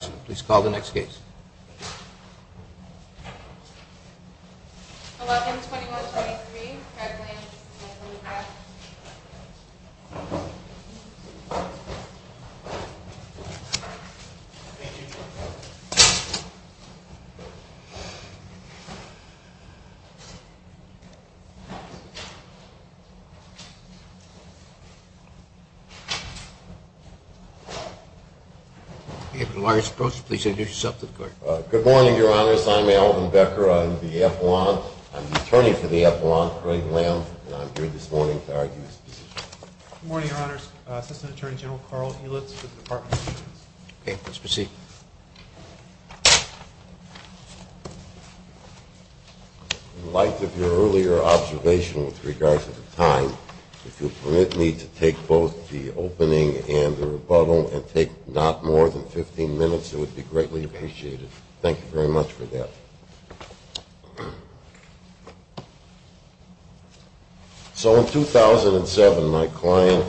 Please call the next case. Allotments 21-23, Craig Lance, and Alvin Becker. May I have the lawyer's approach to please introduce yourself to the court. Good morning, your honors. I'm Alvin Becker. I'm the attorney for the Appellant, Craig Lance, and I'm here this morning to argue this position. Good morning, your honors. Assistant Attorney General Carl Helitz with the Department of Justice. Okay, let's proceed. In light of your earlier observation with regard to the time, if you'll permit me to take both the opening and the rebuttal, and take not more than 15 minutes, it would be greatly appreciated. Thank you very much for that. So in 2007, my client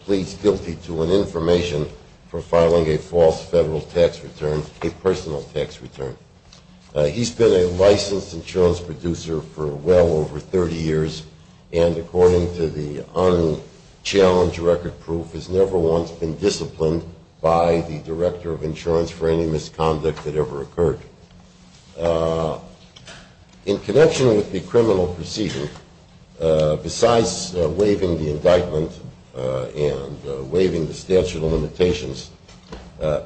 pleads guilty to an information for filing a false federal tax return, a personal tax return. He's been a licensed insurance producer for well over 30 years, and according to the unchallenged record proof, has never once been disciplined by the Director of Insurance for any misconduct that ever occurred. In connection with the criminal proceeding, besides waiving the indictment and waiving the statute of limitations, a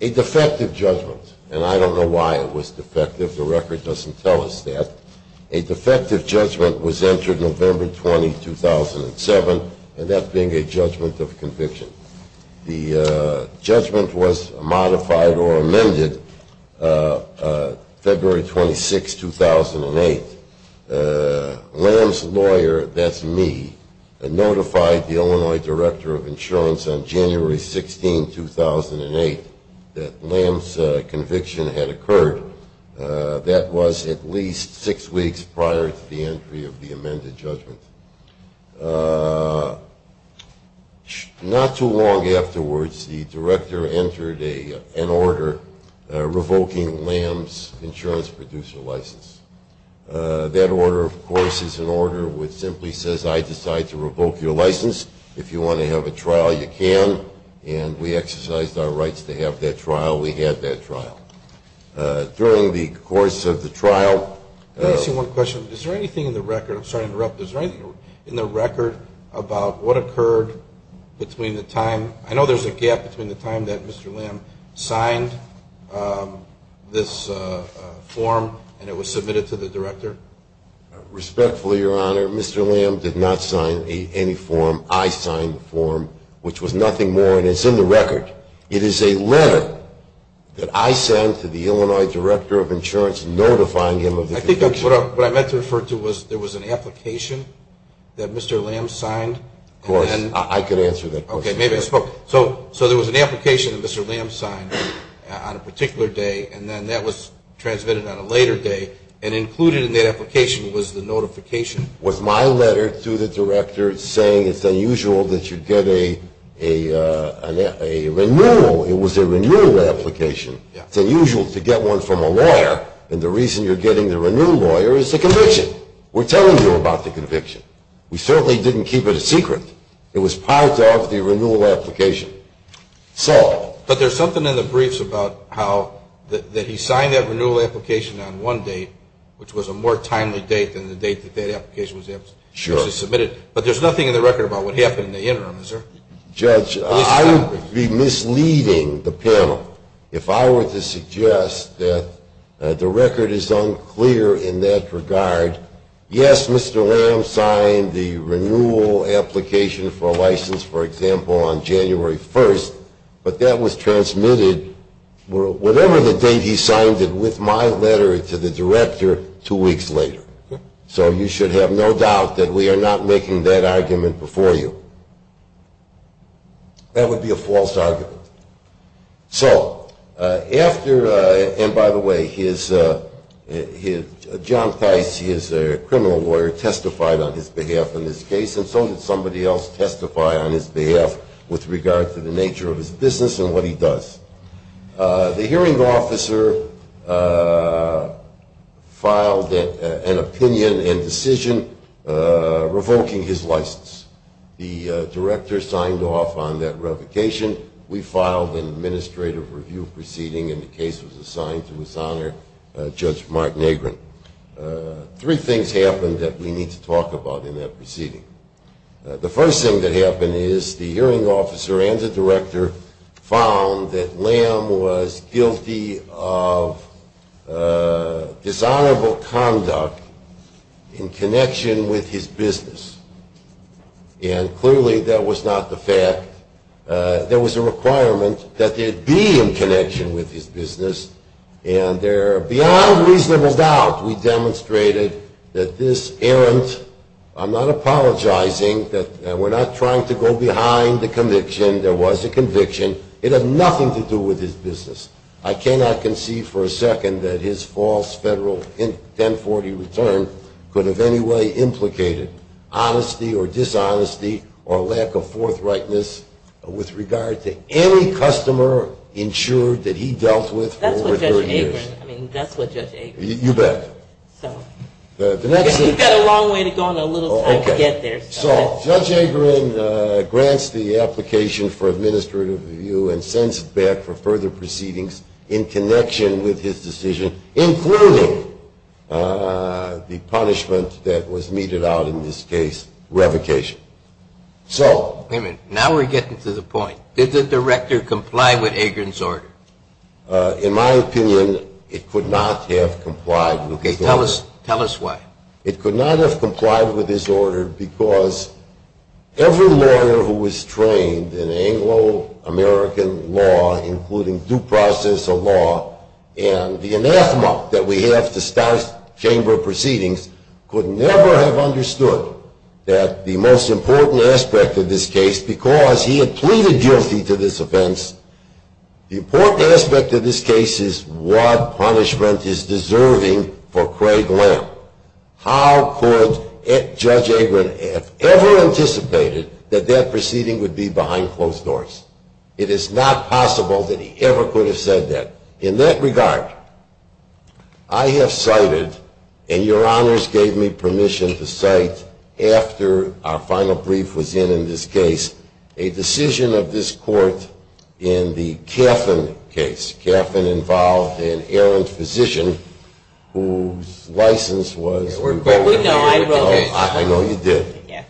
defective judgment, and I don't know why it was defective, the record doesn't tell us that, a defective judgment was entered November 20, 2007, and that being a judgment of conviction. The judgment was modified or amended February 26, 2008. Lamb's lawyer, that's me, notified the Illinois Director of Insurance on January 16, 2008 that Lamb's conviction had occurred. That was at least six weeks prior to the entry of the amended judgment. Not too long afterwards, the Director entered an order revoking Lamb's insurance producer license. That order, of course, is an order which simply says, I decide to revoke your license. If you want to have a trial, you can. And we exercised our rights to have that trial. We had that trial. During the course of the trial – Let me ask you one question. Is there anything in the record – I'm sorry to interrupt. Is there anything in the record about what occurred between the time – Respectfully, Your Honor, Mr. Lamb did not sign any form. I signed the form, which was nothing more, and it's in the record. It is a letter that I sent to the Illinois Director of Insurance notifying him of the conviction. I think what I meant to refer to was there was an application that Mr. Lamb signed. Of course. I could answer that question. Okay, maybe I spoke. So there was an application that Mr. Lamb signed on a particular day, and then that was transmitted on a later day, and included in that application was the notification. Was my letter to the director saying it's unusual that you get a renewal? It was a renewal application. It's unusual to get one from a lawyer, and the reason you're getting the renewal lawyer is the conviction. We're telling you about the conviction. We certainly didn't keep it a secret. It was part of the renewal application. But there's something in the briefs about how he signed that renewal application on one date, which was a more timely date than the date that that application was actually submitted. But there's nothing in the record about what happened in the interim, is there? Judge, I would be misleading the panel if I were to suggest that the record is unclear in that regard. Yes, Mr. Lamb signed the renewal application for a license, for example, on January 1st, but that was transmitted whatever the date he signed it with my letter to the director two weeks later. So you should have no doubt that we are not making that argument before you. That would be a false argument. So after – and, by the way, John Theis, he is a criminal lawyer, testified on his behalf in this case, and so did somebody else testify on his behalf with regard to the nature of his business and what he does. The hearing officer filed an opinion and decision revoking his license. The director signed off on that revocation. We filed an administrative review proceeding, and the case was assigned to his honor, Judge Martin Agron. Three things happened that we need to talk about in that proceeding. The first thing that happened is the hearing officer and the director found that Lamb was guilty of dishonorable conduct in connection with his business. And clearly that was not the fact. There was a requirement that there be in connection with his business, and there, beyond reasonable doubt, we demonstrated that this errant – I'm not apologizing, that we're not trying to go behind the conviction. There was a conviction. It had nothing to do with his business. I cannot conceive for a second that his false federal 1040 return could have any way implicated. Honesty or dishonesty or lack of forthrightness with regard to any customer ensured that he dealt with over 30 years. That's what Judge Agron – I mean, that's what Judge Agron – You bet. We've got a long way to go and a little time to get there. So Judge Agron grants the application for administrative review and sends it back for further proceedings in connection with his decision, including the punishment that was meted out in this case, revocation. So – Wait a minute. Now we're getting to the point. Did the director comply with Agron's order? In my opinion, it could not have complied with – Okay. Tell us why. It could not have complied with his order because every lawyer who was trained in Anglo-American law, including due process of law and the anathema that we have to start chamber proceedings, could never have understood that the most important aspect of this case, because he had pleaded guilty to this offense, the important aspect of this case is what punishment is deserving for Craig Lamb. How could Judge Agron have ever anticipated that that proceeding would be behind closed doors? It is not possible that he ever could have said that. In that regard, I have cited, and your honors gave me permission to cite, after our final brief was in in this case, a decision of this court in the Caffin case. Caffin involved an errant physician whose license was revoked. We know. I wrote it. I know you did. Yes.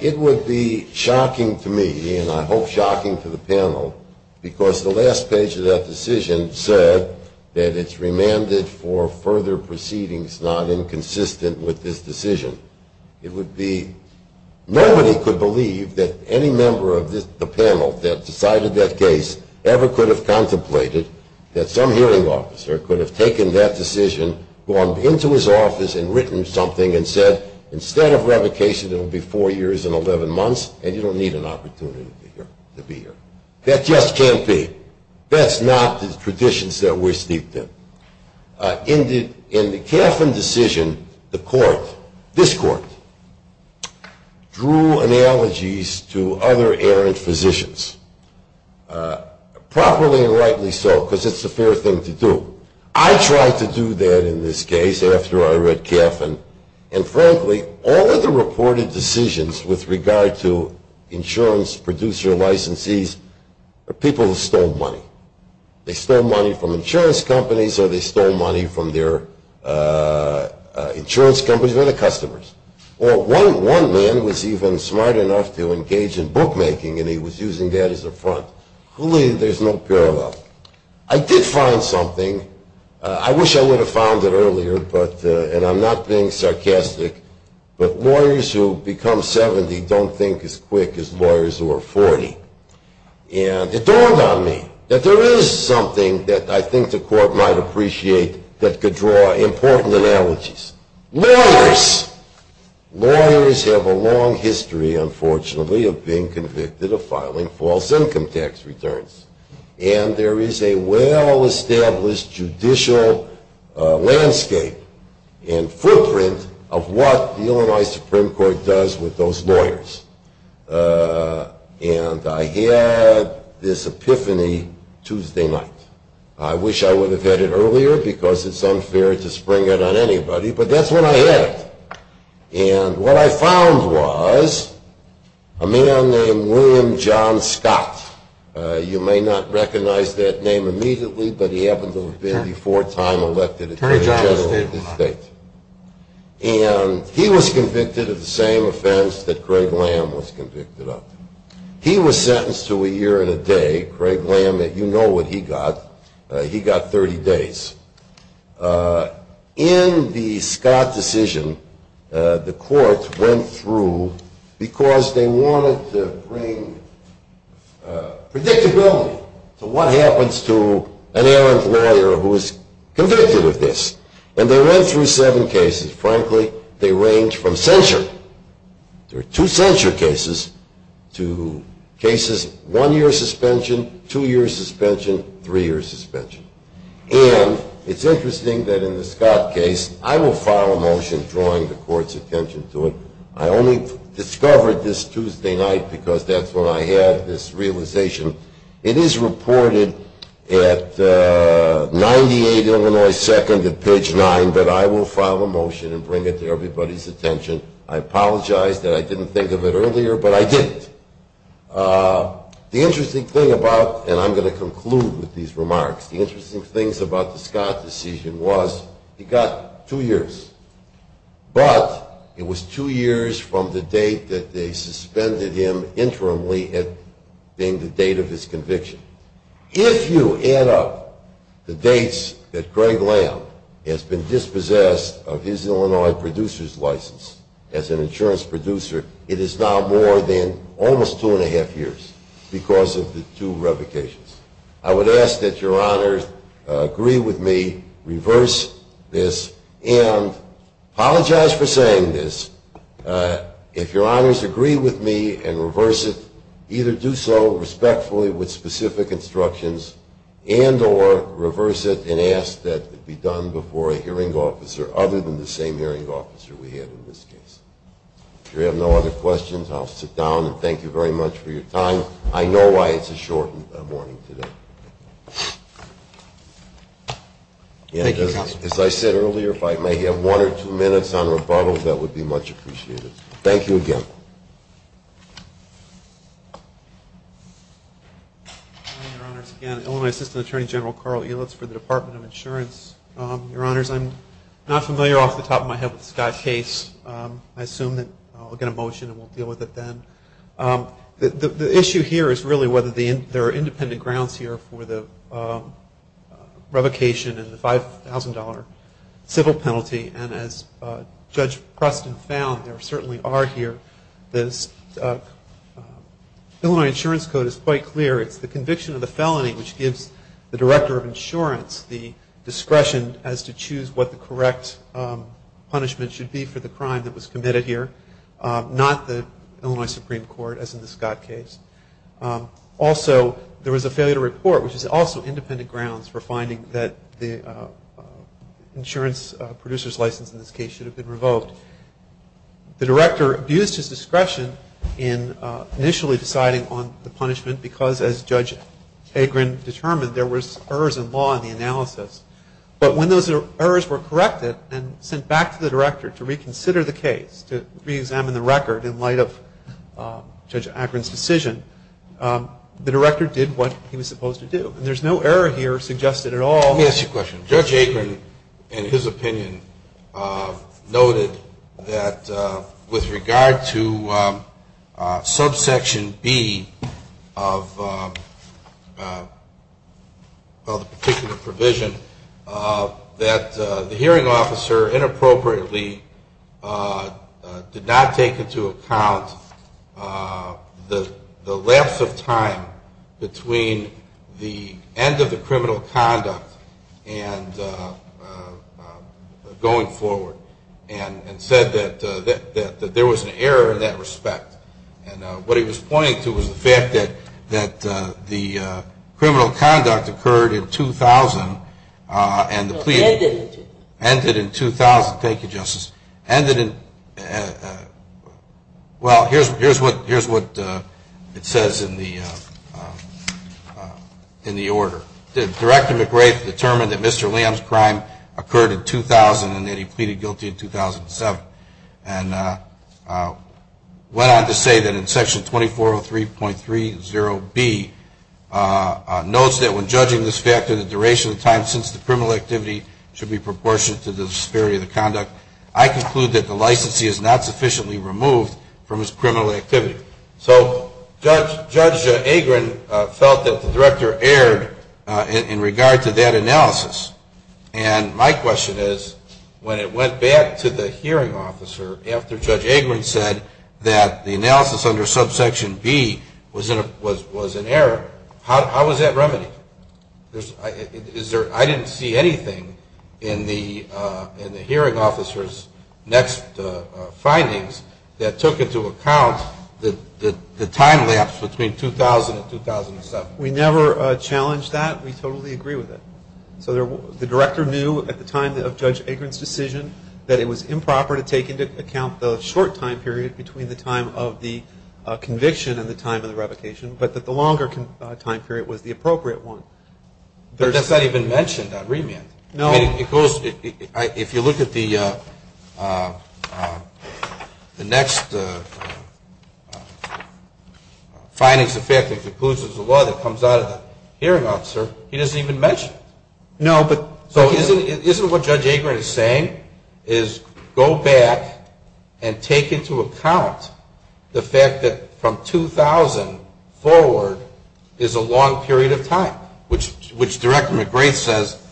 It would be shocking to me, and I hope shocking to the panel, because the last page of that decision said that it's remanded for further proceedings not inconsistent with this decision. It would be, nobody could believe that any member of the panel that decided that case ever could have contemplated that some hearing officer could have taken that decision, gone into his office and written something and said, instead of revocation it will be four years and 11 months, and you don't need an opportunity to be here. That just can't be. That's not the traditions that we're steeped in. In the Caffin decision, the court, this court, drew analogies to other errant physicians. Properly and rightly so, because it's the fair thing to do. I tried to do that in this case after I read Caffin, and frankly all of the reported decisions with regard to insurance producer licensees are people who stole money. They stole money from insurance companies or they stole money from their insurance companies or their customers. Or one man was even smart enough to engage in bookmaking and he was using that as a front. Clearly there's no parallel. I did find something. I wish I would have found it earlier, and I'm not being sarcastic, but lawyers who become 70 don't think as quick as lawyers who are 40. And it dawned on me that there is something that I think the court might appreciate that could draw important analogies. Lawyers. Lawyers have a long history, unfortunately, of being convicted of filing false income tax returns. And there is a well-established judicial landscape and footprint of what the Illinois Supreme Court does with those lawyers. And I had this epiphany Tuesday night. I wish I would have had it earlier because it's unfair to spring it on anybody, but that's what I had. And what I found was a man named William John Scott. You may not recognize that name immediately, but he happened to have been the fourth time elected Attorney General of the state. And he was convicted of the same offense that Greg Lamb was convicted of. He was sentenced to a year and a day. Greg Lamb, you know what he got. He got 30 days. In the Scott decision, the courts went through, because they wanted to bring predictability to what happens to an errant lawyer who is convicted of this. And they went through seven cases. Frankly, they range from censure. There are two censure cases to cases, one-year suspension, two-year suspension, three-year suspension. And it's interesting that in the Scott case, I will file a motion drawing the court's attention to it. I only discovered this Tuesday night because that's when I had this realization. It is reported at 98 Illinois 2nd at page 9, but I will file a motion and bring it to everybody's attention. I apologize that I didn't think of it earlier, but I did. The interesting thing about, and I'm going to conclude with these remarks, the interesting things about the Scott decision was he got two years. But it was two years from the date that they suspended him interimly at being the date of his conviction. If you add up the dates that Greg Lamb has been dispossessed of his Illinois producer's license as an insurance producer, it is now more than almost two and a half years because of the two revocations. I would ask that Your Honors agree with me, reverse this, and apologize for saying this, if Your Honors agree with me and reverse it, either do so respectfully with specific instructions and or reverse it and ask that it be done before a hearing officer other than the same hearing officer we had in this case. If you have no other questions, I'll sit down and thank you very much for your time. I know why it's a short morning today. As I said earlier, if I may have one or two minutes on rebuttal, that would be much appreciated. Thank you again. Hi, Your Honors. Again, Illinois Assistant Attorney General Carl Elitz for the Department of Insurance. Your Honors, I'm not familiar off the top of my head with Scott's case. I assume that I'll get a motion and we'll deal with it then. The issue here is really whether there are independent grounds here for the revocation and the $5,000 civil penalty. And as Judge Preston found, there certainly are here. The Illinois Insurance Code is quite clear. It's the conviction of the felony which gives the director of insurance the discretion as to choose what the correct punishment should be for the crime that was committed here, not the Illinois Supreme Court as in the Scott case. Also, there was a failure to report, which is also independent grounds for finding that the insurance producer's license in this case should have been revoked. The director abused his discretion in initially deciding on the punishment because, as Judge Hagren determined, there were errors in law in the analysis. But when those errors were corrected and sent back to the director to reconsider the case, to re-examine the record in light of Judge Hagren's decision, the director did what he was supposed to do. And there's no error here suggested at all. Let me ask you a question. Judge Hagren, in his opinion, noted that with regard to subsection B of the particular provision, that the hearing officer inappropriately did not take into account the lapse of time between the end of the and going forward and said that there was an error in that respect. And what he was pointing to was the fact that the criminal conduct occurred in 2000 and the plea ended in 2000. Thank you, Justice. Ended in – well, here's what it says in the order. Director McGrath determined that Mr. Lamb's crime occurred in 2000 and that he pleaded guilty in 2007 and went on to say that in Section 2403.30B, notes that when judging this fact of the duration of time since the criminal activity should be proportionate to the disparity of the conduct, I conclude that the licensee is not sufficiently removed from his criminal activity. So Judge Hagren felt that the Director erred in regard to that analysis. And my question is, when it went back to the hearing officer after Judge Hagren said that the analysis under subsection B was an error, how was that remedied? I didn't see anything in the hearing officer's next findings that took into account the time lapse between 2000 and 2007. We never challenged that. We totally agree with it. So the Director knew at the time of Judge Hagren's decision that it was improper to take into account the short time period between the time of the conviction and the time of the revocation, but that the longer time period was the appropriate one. But that's not even mentioned on remand. No. I mean, if you look at the next findings of fact that concludes there's a law that comes out of the hearing officer, he doesn't even mention it. No, but. So isn't what Judge Hagren is saying is go back and take into account the fact that from 2000 forward is a long period of time, which Director McGrath says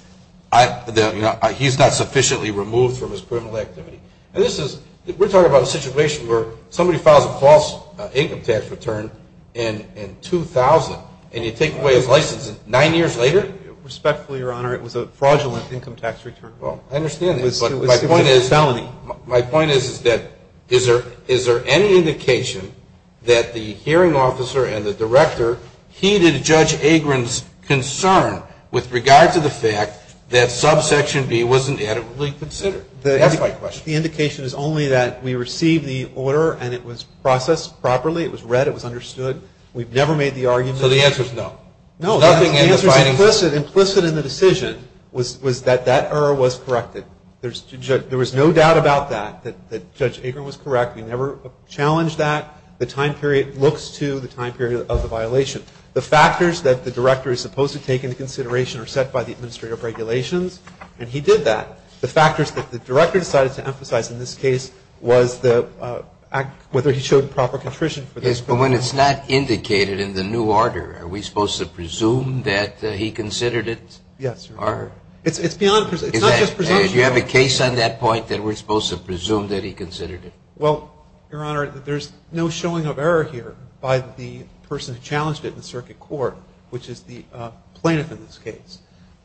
he's not sufficiently removed from his criminal activity. And this is we're talking about a situation where somebody files a false income tax return in 2000, and you take away his license nine years later? Respectfully, Your Honor, it was a fraudulent income tax return. Well, I understand. My point is that is there any indication that the hearing officer and the Director heeded Judge Hagren's concern with regard to the fact that subsection B wasn't adequately considered? That's my question. The indication is only that we received the order and it was processed properly. It was read. It was understood. We've never made the argument. So the answer is no? No. The answer is implicit in the decision was that that error was corrected. There was no doubt about that, that Judge Hagren was correct. We never challenged that. The time period looks to the time period of the violation. The factors that the Director is supposed to take into consideration are set by the administrative regulations, and he did that. The factors that the Director decided to emphasize in this case was whether he showed proper contrition for this. But when it's not indicated in the new order, are we supposed to presume that he considered it? Yes, Your Honor. It's beyond presumption. It's not just presumption. You have a case on that point that we're supposed to presume that he considered it? Well, Your Honor, there's no showing of error here by the person who challenged it in the circuit court, which is the plaintiff in this case.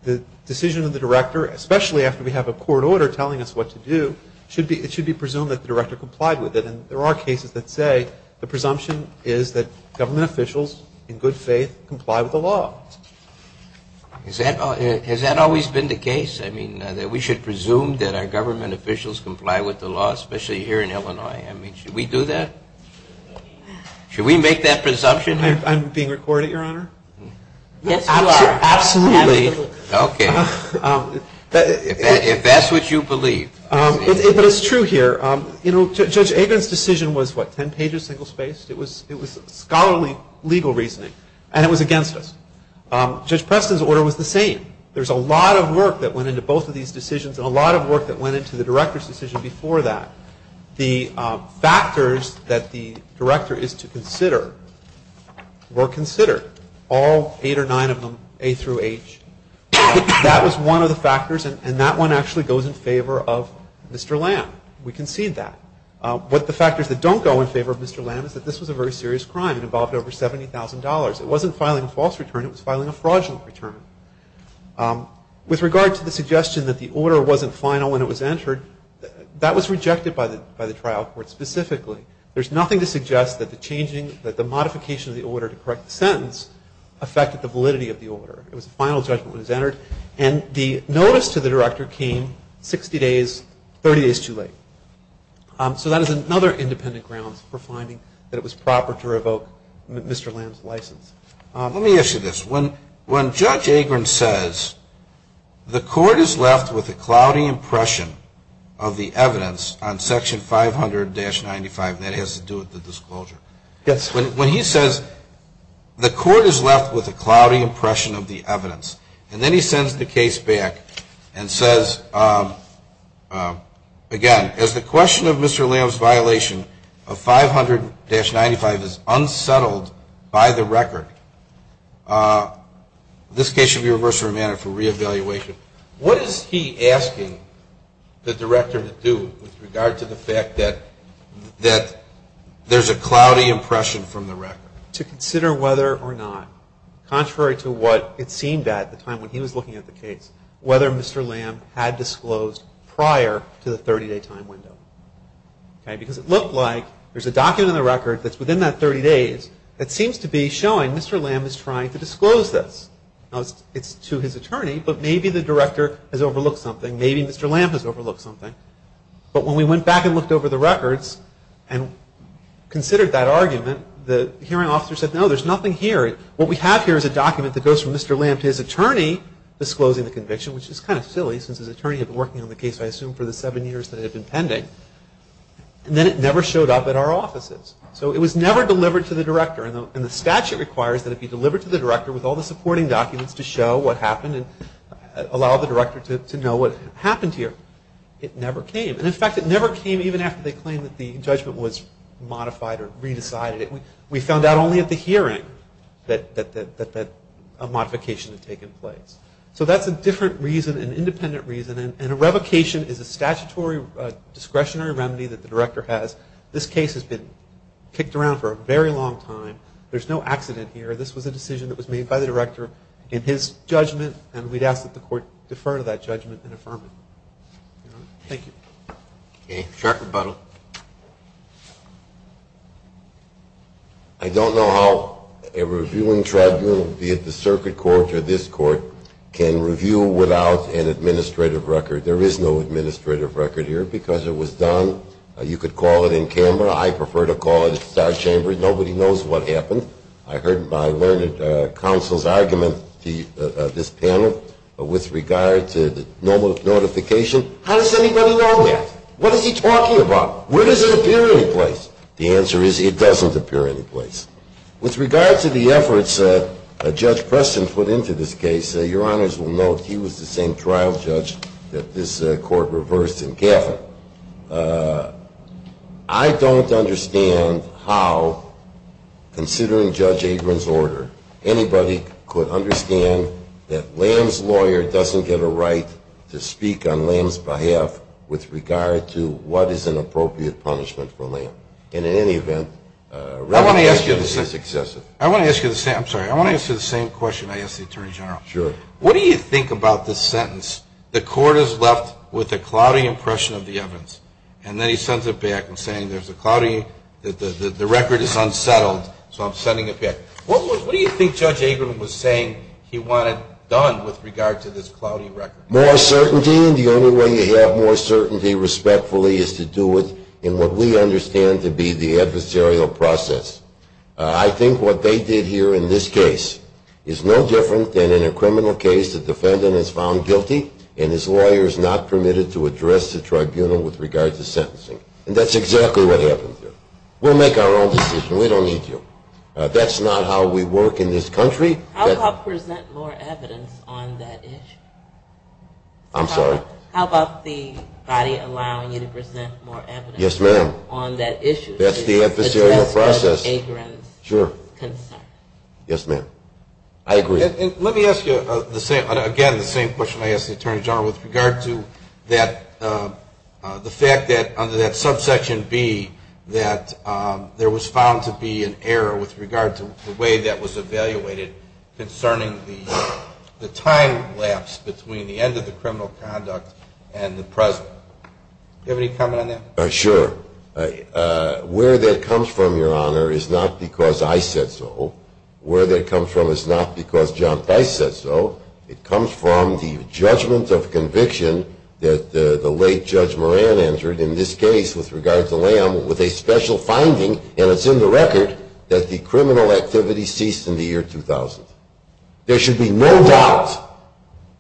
The decision of the Director, especially after we have a court order telling us what to do, it should be presumed that the Director complied with it. And there are cases that say the presumption is that government officials in good faith comply with the law. Has that always been the case? I mean, that we should presume that our government officials comply with the law, especially here in Illinois? I mean, should we do that? Should we make that presumption here? I'm being recorded, Your Honor. Yes, you are. Absolutely. Okay. If that's what you believe. But it's true here. You know, Judge Agron's decision was, what, 10 pages, single spaced? It was scholarly legal reasoning, and it was against us. Judge Preston's order was the same. There's a lot of work that went into both of these decisions and a lot of work that went into the Director's decision before that. The factors that the Director is to consider were considered, all eight or nine of them, A through H. That was one of the factors, and that one actually goes in favor of Mr. Lamb. We concede that. But the factors that don't go in favor of Mr. Lamb is that this was a very serious crime. It involved over $70,000. It wasn't filing a false return. It was filing a fraudulent return. With regard to the suggestion that the order wasn't final when it was entered, that was rejected by the trial court specifically. There's nothing to suggest that the modification of the order to correct the sentence affected the validity of the order. It was a final judgment when it was entered, and the notice to the Director came 60 days, 30 days too late. So that is another independent grounds for finding that it was proper to revoke Mr. Lamb's license. Let me ask you this. When Judge Agron says, the court is left with a cloudy impression of the evidence on Section 500-95, that has to do with the disclosure. Yes. And then he sends the case back and says, again, as the question of Mr. Lamb's violation of 500-95 is unsettled by the record, this case should be reversed for re-evaluation. What is he asking the Director to do with regard to the fact that there's a cloudy impression from the record? To consider whether or not, contrary to what it seemed at the time when he was looking at the case, whether Mr. Lamb had disclosed prior to the 30-day time window. Because it looked like there's a document in the record that's within that 30 days that seems to be showing Mr. Lamb is trying to disclose this. Now, it's to his attorney, but maybe the Director has overlooked something. Maybe Mr. Lamb has overlooked something. But when we went back and looked over the records and considered that argument, the hearing officer said, no, there's nothing here. What we have here is a document that goes from Mr. Lamb to his attorney disclosing the conviction, which is kind of silly since his attorney had been working on the case, I assume, for the seven years that it had been pending. And then it never showed up at our offices. So it was never delivered to the Director. And the statute requires that it be delivered to the Director with all the supporting documents to show what happened and allow the Director to know what happened here. It never came. And, in fact, it never came even after they claimed that the judgment was modified or re-decided. We found out only at the hearing that a modification had taken place. So that's a different reason, an independent reason, and a revocation is a statutory discretionary remedy that the Director has. This case has been kicked around for a very long time. There's no accident here. This was a decision that was made by the Director in his judgment, and we'd ask that the Court defer to that judgment and affirm it. Thank you. Okay. Sheriff Rebuttal. I don't know how a reviewing tribunal, be it the Circuit Court or this Court, can review without an administrative record. There is no administrative record here because it was done. You could call it in camera. I prefer to call it in the Star Chamber. Nobody knows what happened. I heard my learned counsel's argument, this panel, with regard to the notification. How does anybody know that? What is he talking about? Where does it appear anyplace? The answer is it doesn't appear anyplace. With regard to the efforts that Judge Preston put into this case, Your Honors will note he was the same trial judge that this Court reversed in Gavin. I don't understand how, considering Judge Abrams' order, anybody could understand that Lamb's lawyer doesn't get a right to speak on Lamb's behalf with regard to what is an appropriate punishment for Lamb. And in any event, Rebuttal is excessive. I want to ask you the same question I asked the Attorney General. Sure. What do you think about the sentence, the Court is left with a cloudy impression of the evidence, and then he sends it back saying the record is unsettled, so I'm sending it back. What do you think Judge Abrams was saying he wanted done with regard to this cloudy record? More certainty, and the only way you have more certainty, respectfully, is to do it in what we understand to be the adversarial process. I think what they did here in this case is no different than in a criminal case the defendant is found guilty and his lawyer is not permitted to address the tribunal with regard to sentencing. And that's exactly what happened here. We'll make our own decision. We don't need you. That's not how we work in this country. How about present more evidence on that issue? I'm sorry? How about the body allowing you to present more evidence? Yes, ma'am. On that issue. That's the adversarial process. That's Judge Abrams' concern. Sure. Yes, ma'am. I agree. Let me ask you, again, the same question I asked the Attorney General, with regard to the fact that under that subsection B, that there was found to be an error with regard to the way that was evaluated concerning the time lapse between the end of the criminal conduct and the present. Do you have any comment on that? Sure. Where that comes from, Your Honor, is not because I said so. Where that comes from is not because John Price said so. It comes from the judgment of conviction that the late Judge Moran entered, in this case, with regard to Lamb, with a special finding, and it's in the record, that the criminal activity ceased in the year 2000. There should be no doubt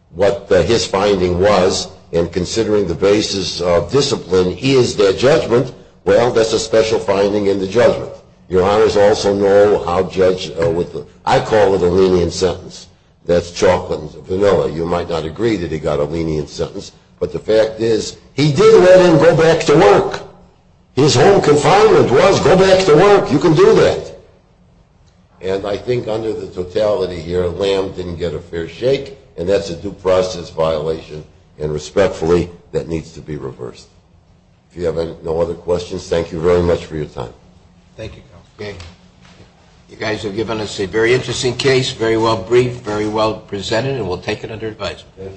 what his finding was, and considering the basis of discipline, he is their judgment. Well, that's a special finding in the judgment. Your Honors also know how Judge Whitlow, I call it a lenient sentence. That's chocolate and vanilla. You might not agree that he got a lenient sentence, but the fact is, he did let him go back to work. His home confinement was go back to work. You can do that. And I think under the totality here, Lamb didn't get a fair shake, and that's a due process violation, and respectfully, that needs to be reversed. If you have no other questions, thank you very much for your time. Thank you, Counsel. You guys have given us a very interesting case, very well briefed, very well presented, and we'll take it under advisement.